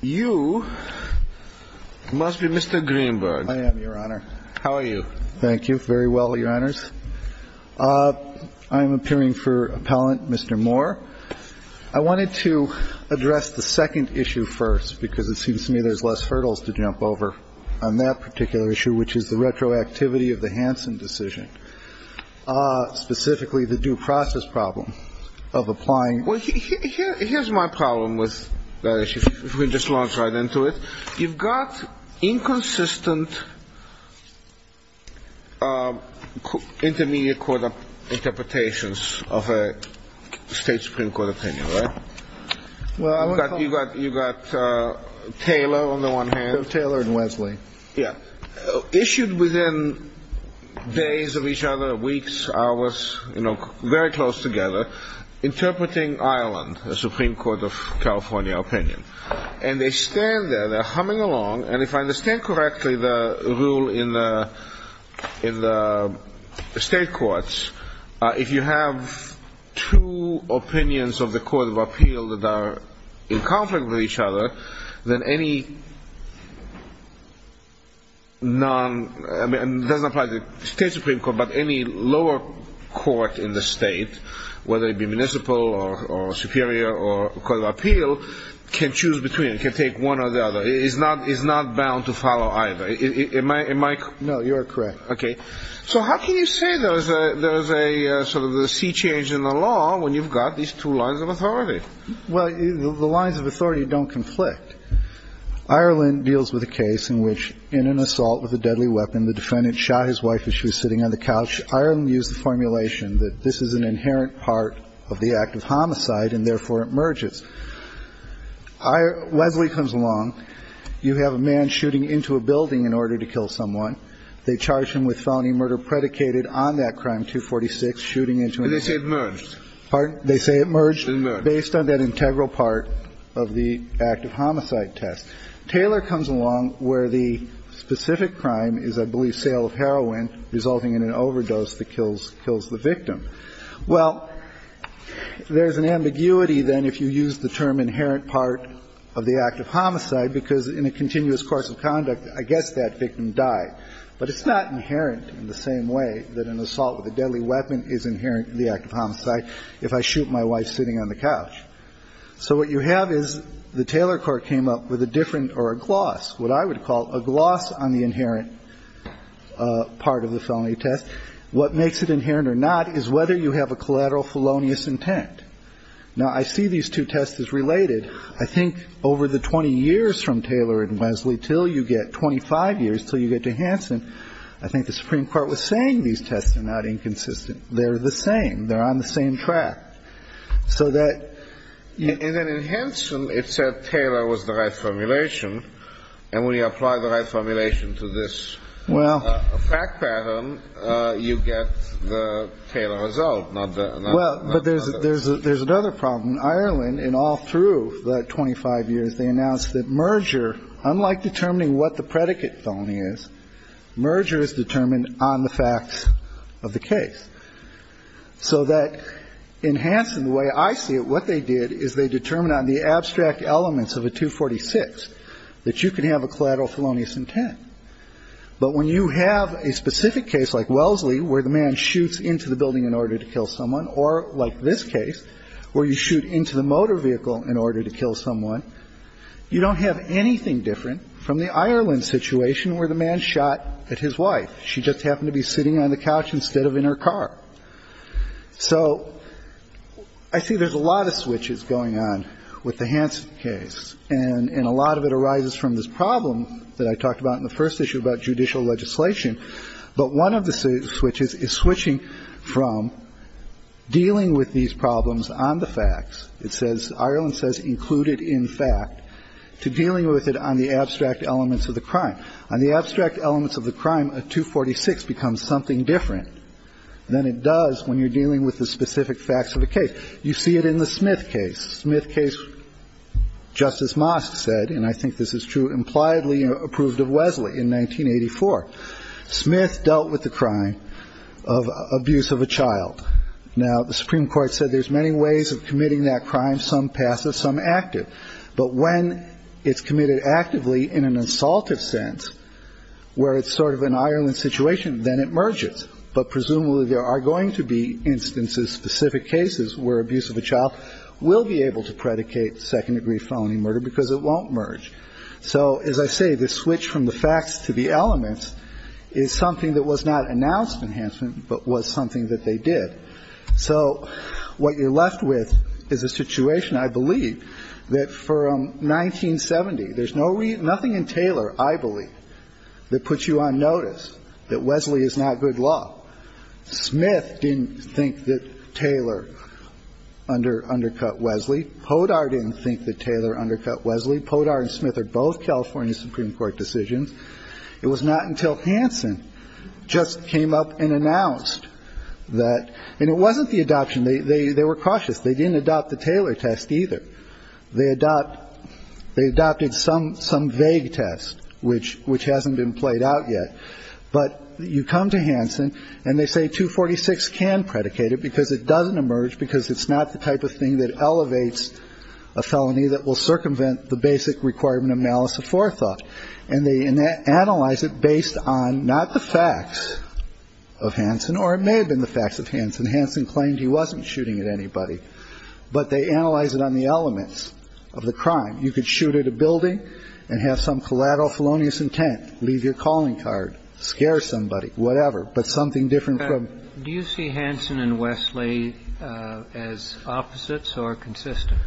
You must be Mr. Greenberg. I am, Your Honor. How are you? Thank you. Very well, Your Honors. I'm appearing for Appellant Mr. Moore. I wanted to address the second issue first because it seems to me there's less hurdles to jump over on that particular issue, which is the retroactivity of the Hansen decision, specifically the due process problem of applying ---- Well, here's my problem with that issue, if we just launch right into it. You've got inconsistent intermediate court interpretations of a State Supreme Court opinion, right? Well, I would call it ---- You've got Taylor on the one hand. Taylor and Wesley. Yeah. Issued within days of each other, weeks, hours, very close together, interpreting Ireland, the Supreme Court of California opinion. And they stand there, they're humming along, and if I understand correctly the rule in the state courts, if you have two opinions of the Court of Appeal that are in conflict with each other, then any non ---- I mean, it doesn't apply to the State Supreme Court, but any lower court in the state, whether it be municipal or superior or Court of Appeal, can choose between, can take one or the other. It's not bound to follow either. Am I ---- No, you're correct. Okay. So how can you say there's a sort of a sea change in the law when you've got these two lines of authority? Well, the lines of authority don't conflict. Ireland deals with a case in which in an assault with a deadly weapon, the defendant shot his wife as she was sitting on the couch. Ireland used the formulation that this is an inherent part of the act of homicide and therefore it merges. Wesley comes along. You have a man shooting into a building in order to kill someone. They charge him with felony murder predicated on that crime, 246, shooting into a building. And they say it merged. Pardon? They say it merged. It merged. Based on that integral part of the act of homicide test. Taylor comes along where the specific crime is, I believe, sale of heroin resulting in an overdose that kills the victim. Well, there's an ambiguity then if you use the term inherent part of the act of homicide because in a continuous course of conduct, I guess that victim died. But it's not inherent in the same way that an assault with a deadly weapon is inherent in the act of homicide if I shoot my wife sitting on the couch. So what you have is the Taylor court came up with a different or a gloss, what I would call a gloss on the inherent part of the felony test. What makes it inherent or not is whether you have a collateral felonious intent. Now, I see these two tests as related. I think over the 20 years from Taylor and Wesley till you get 25 years till you get to Hansen, I think the Supreme Court was saying these tests are not inconsistent. They're the same. They're on the same track so that you can enhance. And it said Taylor was the right formulation. And when you apply the right formulation to this, well, a fact pattern, you get the Taylor result. Well, but there's there's there's another problem in Ireland and all through the 25 years, they announced that merger, unlike determining what the predicate felony is, merger is determined on the facts of the case. So that in Hansen, the way I see it, what they did is they determined on the abstract elements of a 246 that you can have a collateral felonious intent. But when you have a specific case like Wellesley, where the man shoots into the building in order to kill someone, or like this case where you shoot into the motor vehicle in order to kill someone, you don't have anything different from the Ireland situation where the man shot at his wife. She just happened to be sitting on the couch instead of in her car. So I see there's a lot of switches going on with the Hansen case. And a lot of it arises from this problem that I talked about in the first issue about judicial legislation. But one of the switches is switching from dealing with these problems on the facts. It says Ireland says included in fact to dealing with it on the abstract elements of the crime and the abstract elements of the crime. A 246 becomes something different than it does when you're dealing with the specific facts of the case. You see it in the Smith case. Smith case, Justice Mosk said, and I think this is true, impliedly approved of Wellesley in 1984. Smith dealt with the crime of abuse of a child. Now, the Supreme Court said there's many ways of committing that crime, some passive, some active. But when it's committed actively in an assaultive sense, where it's sort of an Ireland situation, then it merges. But presumably, there are going to be instances, specific cases, where abuse of a child will be able to predicate second-degree felony murder because it won't merge. So as I say, this switch from the facts to the elements is something that was not announced in Hansen, but was something that they did. So what you're left with is a situation, I believe, that from 1970, there's no reason, nothing in Taylor, I believe, that puts you on notice that Wellesley is not good law. Smith didn't think that Taylor undercut Wellesley. Podar didn't think that Taylor undercut Wellesley. Podar and Smith are both California Supreme Court decisions. It was not until Hansen just came up and announced that, and it wasn't the adoption. They were cautious. They didn't adopt the Taylor test either. They adopted some vague test, which hasn't been played out yet. But you come to Hansen, and they say 246 can predicate it because it doesn't emerge, because it's not the type of thing that elevates a felony that will circumvent the basic requirement of malice of forethought. And they analyze it based on not the facts of Hansen, or it may have been the facts of Hansen. Hansen claimed he wasn't shooting at anybody, but they analyze it on the elements of the crime. You could shoot at a building and have some collateral felonious intent, leave your calling card, scare somebody, whatever. But something different from- Do you see Hansen and Wellesley as opposites or consistent?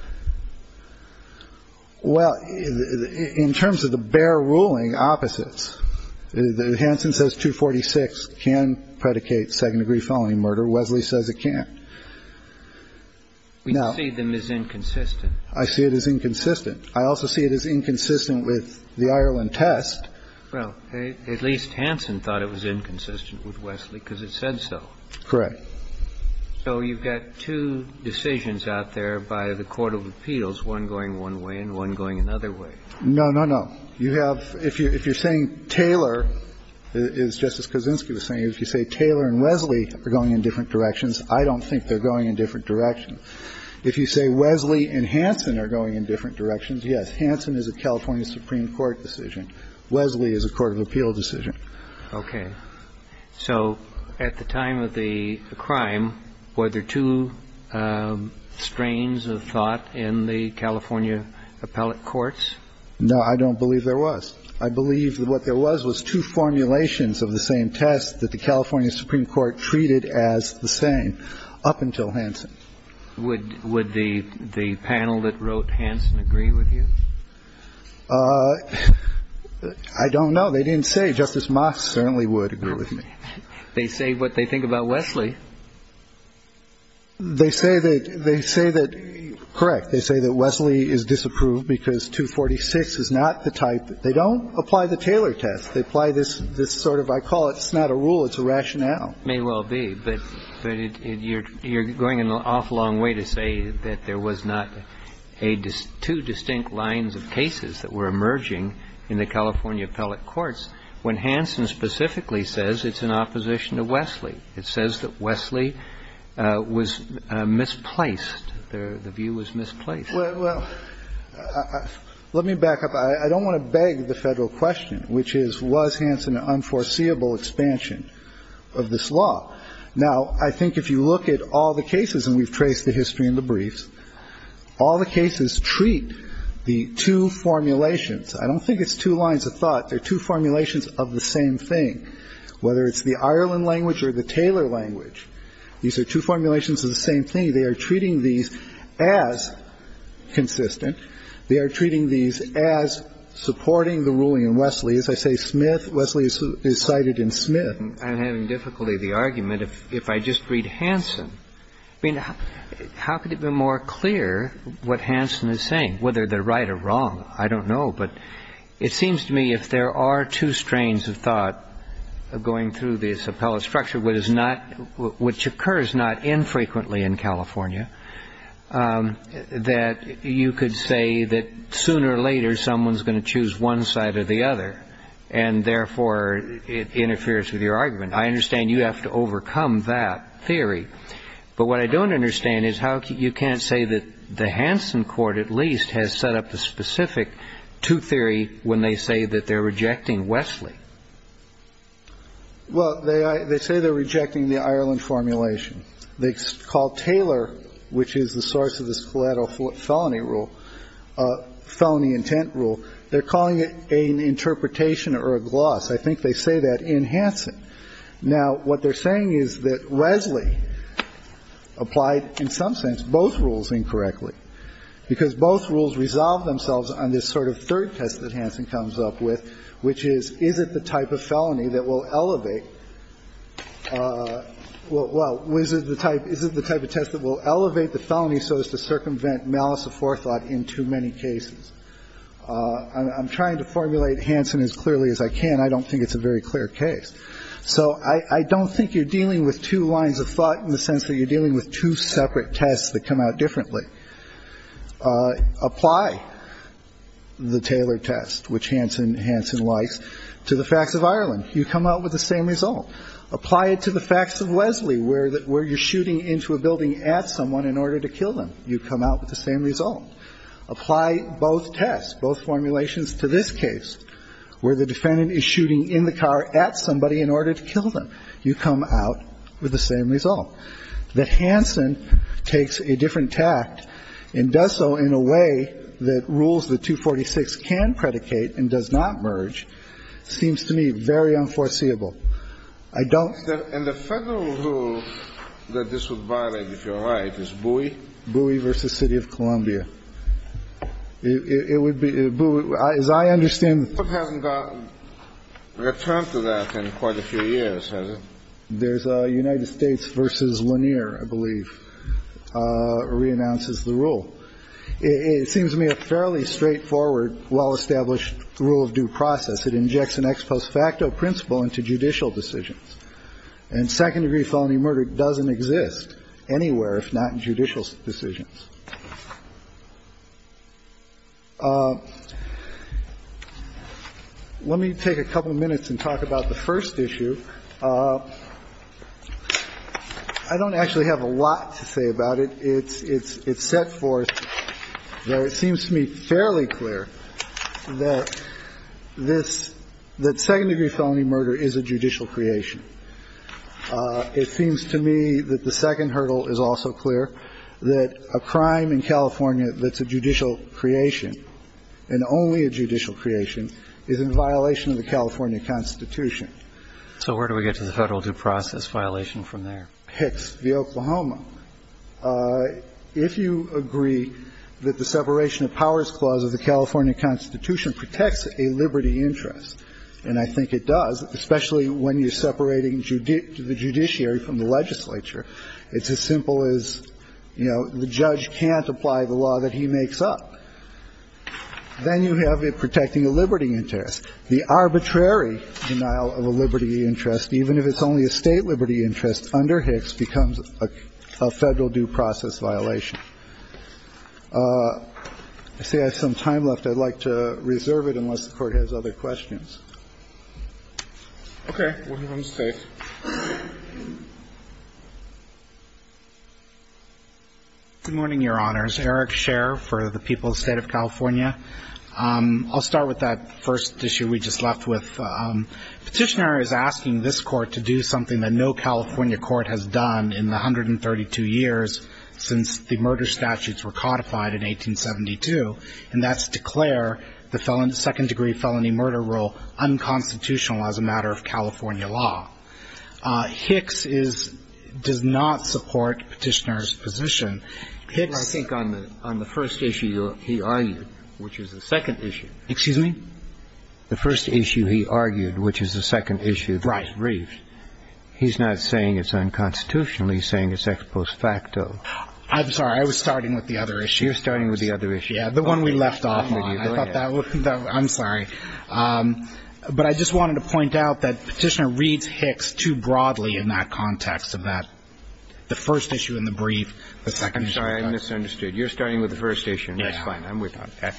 Well, in terms of the bare ruling, opposites. Hansen says 246 can predicate second-degree felony murder. Wellesley says it can't. We see them as inconsistent. I see it as inconsistent. I also see it as inconsistent with the Ireland test. Well, at least Hansen thought it was inconsistent with Wellesley because it said so. Correct. So you've got two decisions out there by the court of appeals, one going one way and one going another way. No, no, no. You have – if you're saying Taylor, as Justice Kozinski was saying, if you say Taylor and Wellesley are going in different directions, I don't think they're going in different directions. If you say Wellesley and Hansen are going in different directions, yes, Hansen is a California supreme court decision. Wellesley is a court of appeal decision. Okay. So at the time of the crime, were there two strains of thought in the California appellate courts? No, I don't believe there was. I believe what there was was two formulations of the same test that the California supreme court treated as the same up until Hansen. Would the panel that wrote Hansen agree with you? I don't know. They didn't say. Justice Mock certainly would agree with me. They say what they think about Wellesley. They say that – correct. They say that Wellesley is disapproved because 246 is not the type – they don't apply the Taylor test. They apply this sort of – I call it – it's not a rule, it's a rationale. It may well be, but you're going an awful long way to say that there was not two distinct lines of cases that were emerging in the California appellate courts when Hansen specifically says it's in opposition to Wellesley. It says that Wellesley was misplaced. The view was misplaced. Well, let me back up. I don't want to beg the Federal question, which is was Hansen an unforeseeable expansion of this law. Now, I think if you look at all the cases, and we've traced the history in the briefs, all the cases treat the two formulations. I don't think it's two lines of thought. They're two formulations of the same thing. Whether it's the Ireland language or the Taylor language, these are two formulations of the same thing. They are treating these as consistent. They are treating these as supporting the ruling in Wellesley. As I say, Smith – Wellesley is cited in Smith. I'm having difficulty with the argument. If I just read Hansen, I mean, how could it be more clear what Hansen is saying, whether they're right or wrong? I don't know. But it seems to me if there are two strains of thought going through this appellate structure, which is not – which occurs not infrequently in California, that you could say that sooner or later someone's going to choose one side or the other, and therefore, it interferes with your argument. I understand you have to overcome that theory. But what I don't understand is how you can't say that the Hansen court, at least, has set up a specific two-theory when they say that they're rejecting Wellesley. They say they're rejecting the Ireland formulation. They call Taylor, which is the source of the scoletto felony rule – felony intent rule – they're calling it an interpretation or a gloss. I think they say that in Hansen. Now, what they're saying is that Wellesley applied, in some sense, both rules incorrectly, because both rules resolve themselves on this sort of third test that Hansen comes up with, which is, is it the type of felony that will elevate – well, is it the type of test that will elevate the felony so as to circumvent malice aforethought in too many cases? I'm trying to formulate Hansen as clearly as I can. I don't think it's a very clear case. So I don't think you're dealing with two lines of thought in the sense that you're dealing with two separate tests that come out differently. You can apply the Taylor test, which Hansen – Hansen likes, to the facts of Ireland. You come out with the same result. Apply it to the facts of Wellesley, where you're shooting into a building at someone in order to kill them. You come out with the same result. Apply both tests, both formulations to this case, where the defendant is shooting in the car at somebody in order to kill them. You come out with the same result. The Hansen takes a different tact and does so in a way that rules that 246 can predicate and does not merge seems to me very unforeseeable. I don't – And the Federal rule that this would violate, if you're right, is Bowie? Bowie v. City of Columbia. It would be – as I understand – The Court hasn't gotten a return to that in quite a few years, has it? There's a United States v. Lanier, I believe, reannounces the rule. It seems to me a fairly straightforward, well-established rule of due process. It injects an ex post facto principle into judicial decisions. And second-degree felony murder doesn't exist anywhere if not in judicial decisions. Let me take a couple of minutes and talk about the first issue. I don't actually have a lot to say about it. It's set forth where it seems to me fairly clear that this – that second-degree felony murder is a judicial creation. It seems to me that the second hurdle is also clear, that a crime in California that's a judicial creation, and only a judicial creation, is in violation of the California Constitution. So where do we get to the Federal due process violation from there? Hicks v. Oklahoma. If you agree that the separation of powers clause of the California Constitution protects a liberty interest, and I think it does, especially when you're separating the judiciary from the legislature, it's as simple as, you know, the judge can't apply the law that he makes up. Then you have it protecting a liberty interest. The arbitrary denial of a liberty interest, even if it's only a State liberty interest under Hicks, becomes a Federal due process violation. I see I have some time left. I'd like to reserve it unless the Court has other questions. Okay. We'll have him stay. Good morning, Your Honors. Eric Scherr for the People's State of California. I'll start with that first issue we just left with. Petitioner is asking this Court to do something that no California court has done in the 132 years since the murder statutes were codified in 1872, and that's to claim that the second-degree felony murder rule is unconstitutional as a matter of California law. Hicks does not support Petitioner's position. I think on the first issue he argued, which is the second issue, he's not saying it's unconstitutionally, he's saying it's ex post facto. I'm sorry. I was starting with the other issue. You're starting with the other issue. Yeah, the one we left off on. I thought that was, I'm sorry. But I just wanted to point out that Petitioner reads Hicks too broadly in that context of that, the first issue and the brief. I'm sorry, I misunderstood. You're starting with the first issue. That's fine. I'm with that.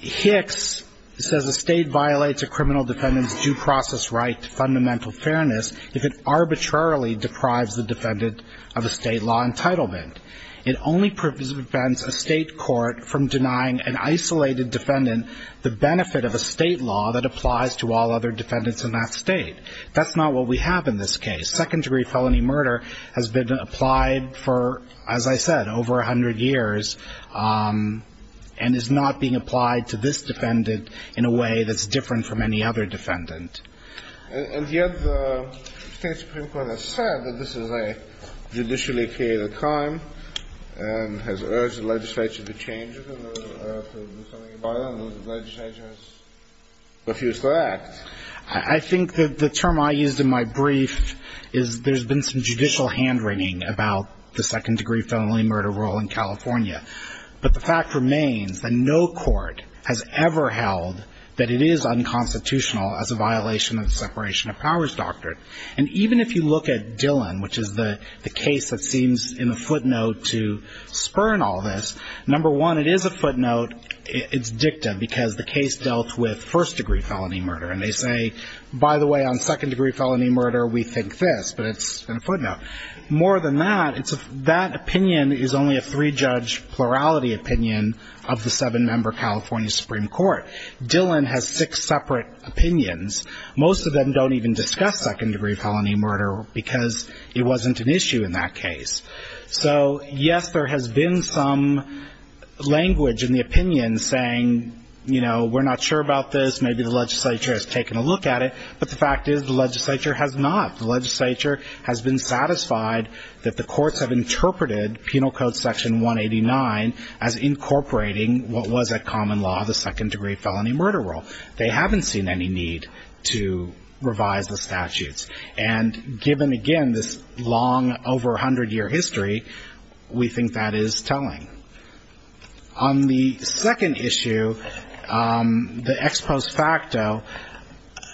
Hicks says a state violates a criminal defendant's due process right to fundamental fairness if it arbitrarily deprives the defendant of a state law entitlement. It only prevents a state court from denying an isolated defendant the benefit of a state law that applies to all other defendants in that state. That's not what we have in this case. Second degree felony murder has been applied for, as I said, over 100 years and is not being applied to this defendant in a way that's different from any other defendant. And yet the state supreme court has said that this is a judicially created crime and has urged the legislature to change it and to do something about it and the legislature has refused to act. I think that the term I used in my brief is there's been some judicial hand wringing about the second degree felony murder rule in California. But the fact remains that no court has ever held that it is unconstitutional as a violation of the separation of powers doctrine. And even if you look at Dillon, which is the case that seems in a footnote to spurn all this, number one, it is a footnote, it's dicta, because the case dealt with first degree felony murder. And they say, by the way, on second degree felony murder, we think this, but it's in a footnote. More than that, that opinion is only a three judge plurality opinion of the seven member California Supreme Court. Dillon has six separate opinions. Most of them don't even discuss second degree felony murder because it wasn't an issue in that case. So yes, there has been some language in the opinion saying, we're not sure about this. Maybe the legislature has taken a look at it, but the fact is the legislature has not. The legislature has been satisfied that the courts have interpreted penal code section 189 as incorporating what was a common law, the second degree felony murder rule. They haven't seen any need to revise the statutes. And given, again, this long, over 100 year history, we think that is telling. On the second issue, the ex post facto,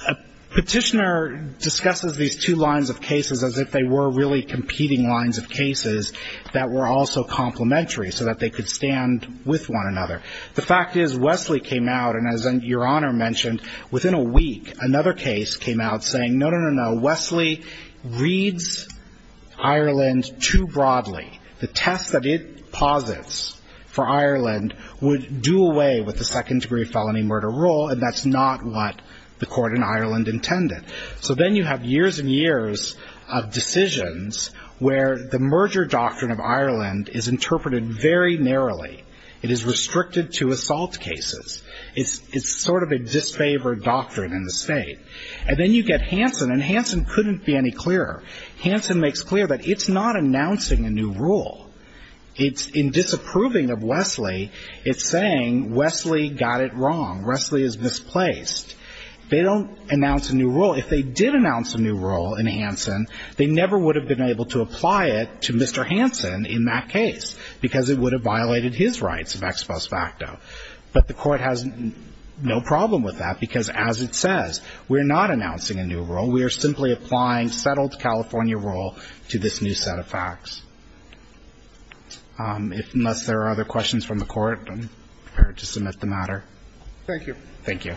a petitioner discusses these two lines of cases as if they were really competing lines of cases that were also complementary, so that they could stand with one another. The fact is Wesley came out, and as your honor mentioned, within a week, another case came out saying, no, no, no, no, Wesley reads Ireland too broadly. The test that it posits for Ireland would do away with the second degree felony murder rule, and that's not what the court in Ireland intended. So then you have years and years of decisions where the merger doctrine of Ireland is interpreted very narrowly. It is restricted to assault cases. It's sort of a disfavored doctrine in the state. And then you get Hanson, and Hanson couldn't be any clearer. Hanson makes clear that it's not announcing a new rule. It's in disapproving of Wesley, it's saying Wesley got it wrong. Wesley is misplaced. They don't announce a new rule. If they did announce a new rule in Hanson, they never would have been able to apply it to Mr. Hanson in that case, because it would have violated his rights of ex post facto. But the court has no problem with that, because as it says, we're not announcing a new rule. We are simply applying settled California rule to this new set of facts. Unless there are other questions from the court, I'm prepared to submit the matter. Thank you. Thank you.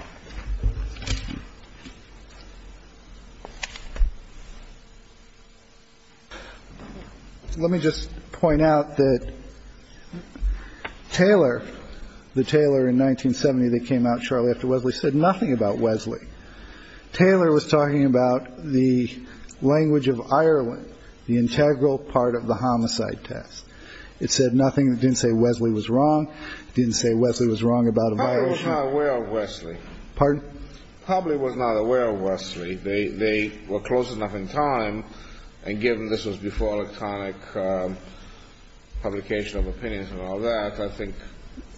Let me just point out that Taylor, the Taylor in 1970 that came out shortly after Wesley, said nothing about Wesley. Taylor was talking about the language of Ireland, the integral part of the homicide test. It said nothing. It didn't say Wesley was wrong. It didn't say Wesley was wrong about a violation. I'm not aware of Wesley. Pardon? Probably was not aware of Wesley. They were close enough in time, and given this was before electronic publication of opinions and all that, I think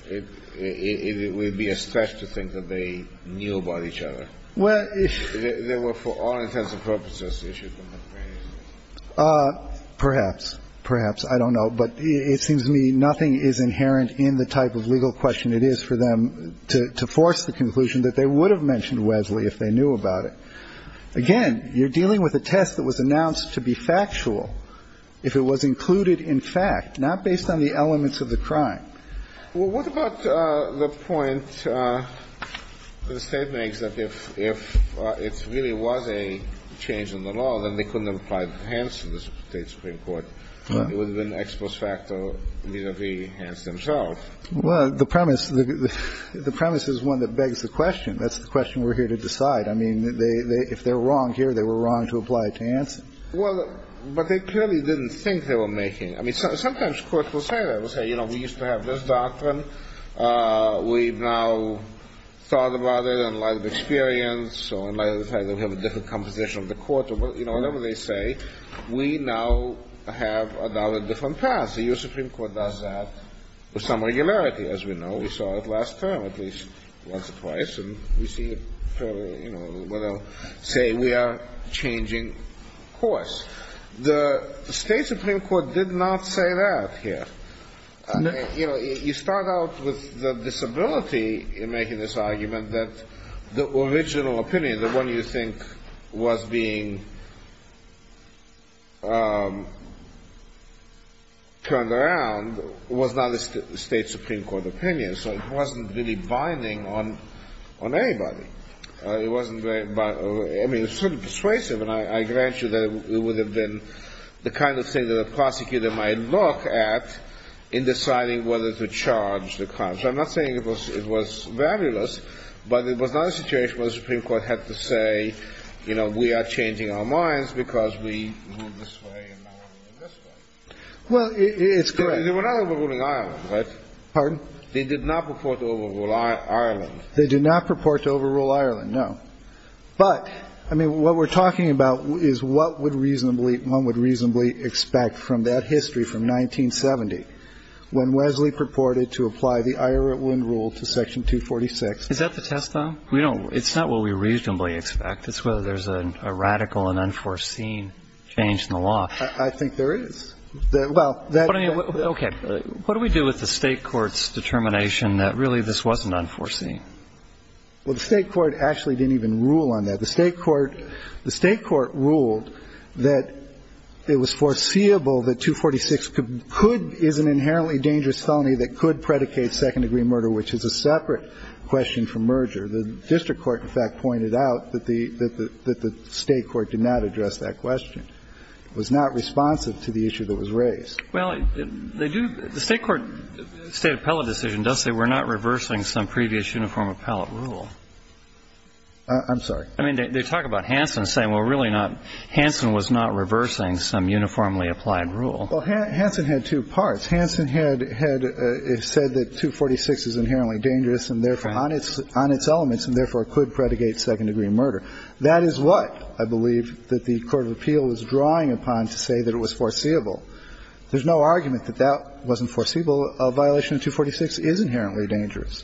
it would be a stretch to think that they knew about each other. Well, if they were for all intents and purposes, they should know. Perhaps. Perhaps. I don't know. But it seems to me nothing is inherent in the type of legal question it is for them to force the conclusion that they would have mentioned Wesley if they knew about it. Again, you're dealing with a test that was announced to be factual, if it was included in fact, not based on the elements of the crime. Well, what about the point the State makes that if it really was a change in the law, then they couldn't have applied it hence in the State Supreme Court. It would have been ex post facto, neither be hence themselves. Well, the premise is one that begs the question. That's the question we're here to decide. I mean, if they're wrong here, they were wrong to apply it to Hanson. Well, but they clearly didn't think they were making. I mean, sometimes courts will say that. They'll say, you know, we used to have this doctrine. We've now thought about it in light of experience or in light of the fact that we have a different composition of the court. You know, whatever they say, we now have a different path. The U.S. Supreme Court does that with some regularity, as we know. We saw it last term at least once or twice. And we see it fairly, you know, say we are changing course. The State Supreme Court did not say that here. You know, you start out with the disability in making this argument that the original opinion, the one you think was being turned around, was not a State Supreme Court opinion. So it wasn't really binding on anybody. It wasn't very, I mean, it was sort of persuasive. And I grant you that it would have been the kind of thing that a prosecutor might look at in deciding whether to charge the crime. So I'm not saying it was valueless, but it was not a situation where the Supreme Court had to say, you know, we are changing our minds because we moved this way and now we're moving this way. Well, it's correct. They were not overruling Ireland, right? Pardon? They did not purport to overrule Ireland. They did not purport to overrule Ireland, no. But, I mean, what we're talking about is what would reasonably one would reasonably expect from that history from 1970, when Wesley purported to apply the Ira Wynne rule to Section 246. Is that the test, though? We don't – it's not what we reasonably expect. It's whether there's a radical and unforeseen change in the law. I think there is. Well, that – Okay. What do we do with the State court's determination that really this wasn't unforeseen? Well, the State court actually didn't even rule on that. The State court – the State court ruled that it was foreseeable that 246 could – is an inherently dangerous felony that could predicate second-degree murder, which is a separate question from merger. The district court, in fact, pointed out that the State court did not address that question. It was not responsive to the issue that was raised. Well, they do – the State court – State appellate decision does say we're not reversing some previous uniform appellate rule. I'm sorry? I mean, they talk about Hansen saying, well, really not – Hansen was not reversing some uniformly applied rule. Well, Hansen had two parts. Hansen had said that 246 is inherently dangerous and therefore – on its elements and therefore could predicate second-degree murder. That is what I believe that the court of appeal was drawing upon to say that it was foreseeable. There's no argument that that wasn't foreseeable. A violation of 246 is inherently dangerous.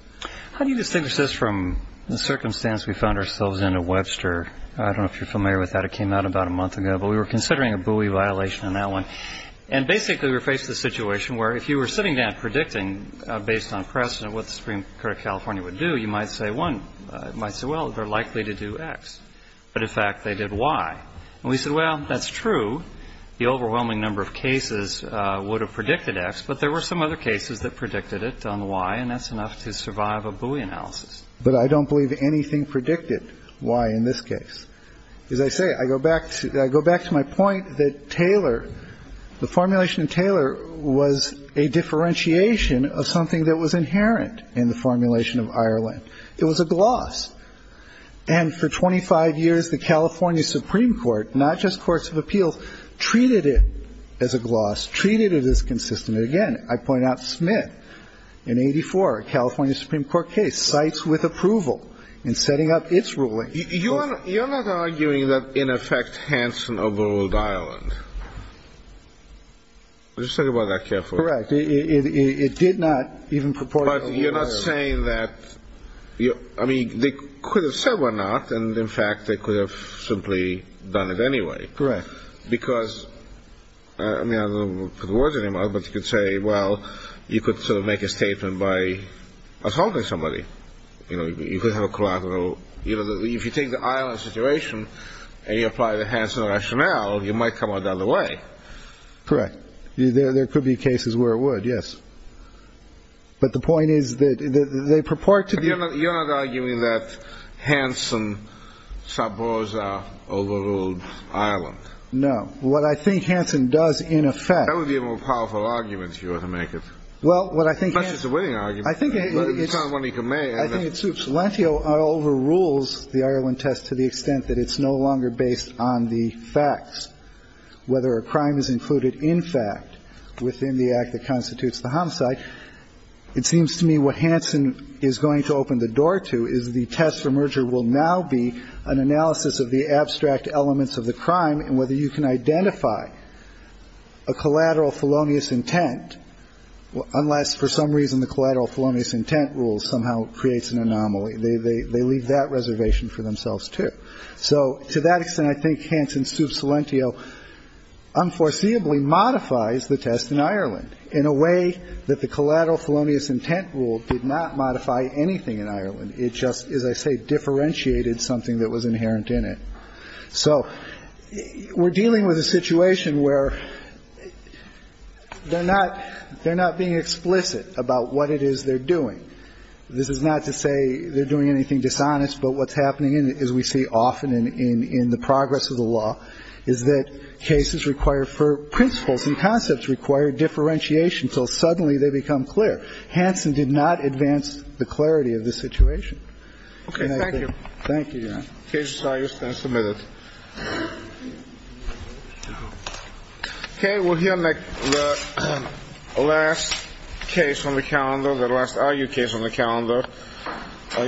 How do you distinguish this from the circumstance we found ourselves in at Webster? I don't know if you're familiar with that. It came out about a month ago. But we were considering a buoy violation on that one. And basically we were faced with a situation where if you were sitting down predicting based on precedent what the Supreme Court of California would do, you might say one – might say, well, they're likely to do X. But in fact, they did Y. And we said, well, that's true. The overwhelming number of cases would have predicted X, but there were some other cases that predicted it on the Y. And that's enough to survive a buoy analysis. But I don't believe anything predicted Y in this case. As I say, I go back – I go back to my point that Taylor – the formulation of Taylor was a differentiation of something that was inherent in the formulation of Ireland. It was a gloss. And for 25 years, the California Supreme Court, not just courts of appeals, treated it as a gloss, treated it as consistent. And again, I point out Smith in 84, a California Supreme Court case, cites with approval in setting up its ruling. You're not arguing that in effect Hanson overruled Ireland. Let's just talk about that carefully. Correct. It did not even purport to overrule Ireland. But you're not saying that – I mean, they could have said why not. And in fact, they could have simply done it anyway. Correct. Because – I mean, I don't know the words anymore, but you could say, well, you could sort of make a statement by assaulting somebody. You know, you could have a collateral – you know, if you take the Ireland situation and you apply the Hanson rationale, you might come out the other way. Correct. There could be cases where it would, yes. But the point is that they purport to be – You're not arguing that Hanson, Saborza overruled Ireland. No. What I think Hanson does in effect – That would be a more powerful argument, if you were to make it. Well, what I think – Especially if it's a winning argument. I think it's – It's not one he can make. I think it's – if Salentio overrules the Ireland test to the extent that it's no longer based on the facts, whether a crime is included in fact within the act that constitutes the homicide, it seems to me what Hanson is going to open the door to is the test for merger will now be an analysis of the abstract elements of the crime and whether you can identify a collateral felonious intent, unless for some reason the collateral felonious intent rule somehow creates an anomaly. They leave that reservation for themselves, too. So to that extent, I think Hanson sues Salentio unforeseeably modifies the test in Ireland in a way that the collateral felonious intent rule did not modify anything in Ireland. It just, as I say, differentiated something that was inherent in it. So we're dealing with a situation where they're not – they're not being explicit about what it is they're doing. This is not to say they're doing anything dishonest, but what's happening, as we see often in the progress of the law, is that cases require for principles and concepts require differentiation until suddenly they become clear. Hanson did not advance the clarity of the situation. Okay. Thank you. Thank you, Your Honor. The case is now submitted. Okay. We'll hear the last case on the calendar, the last RU case on the calendar. Thank you. Thank you. Thank you. Thank you. Thank you. Thank you.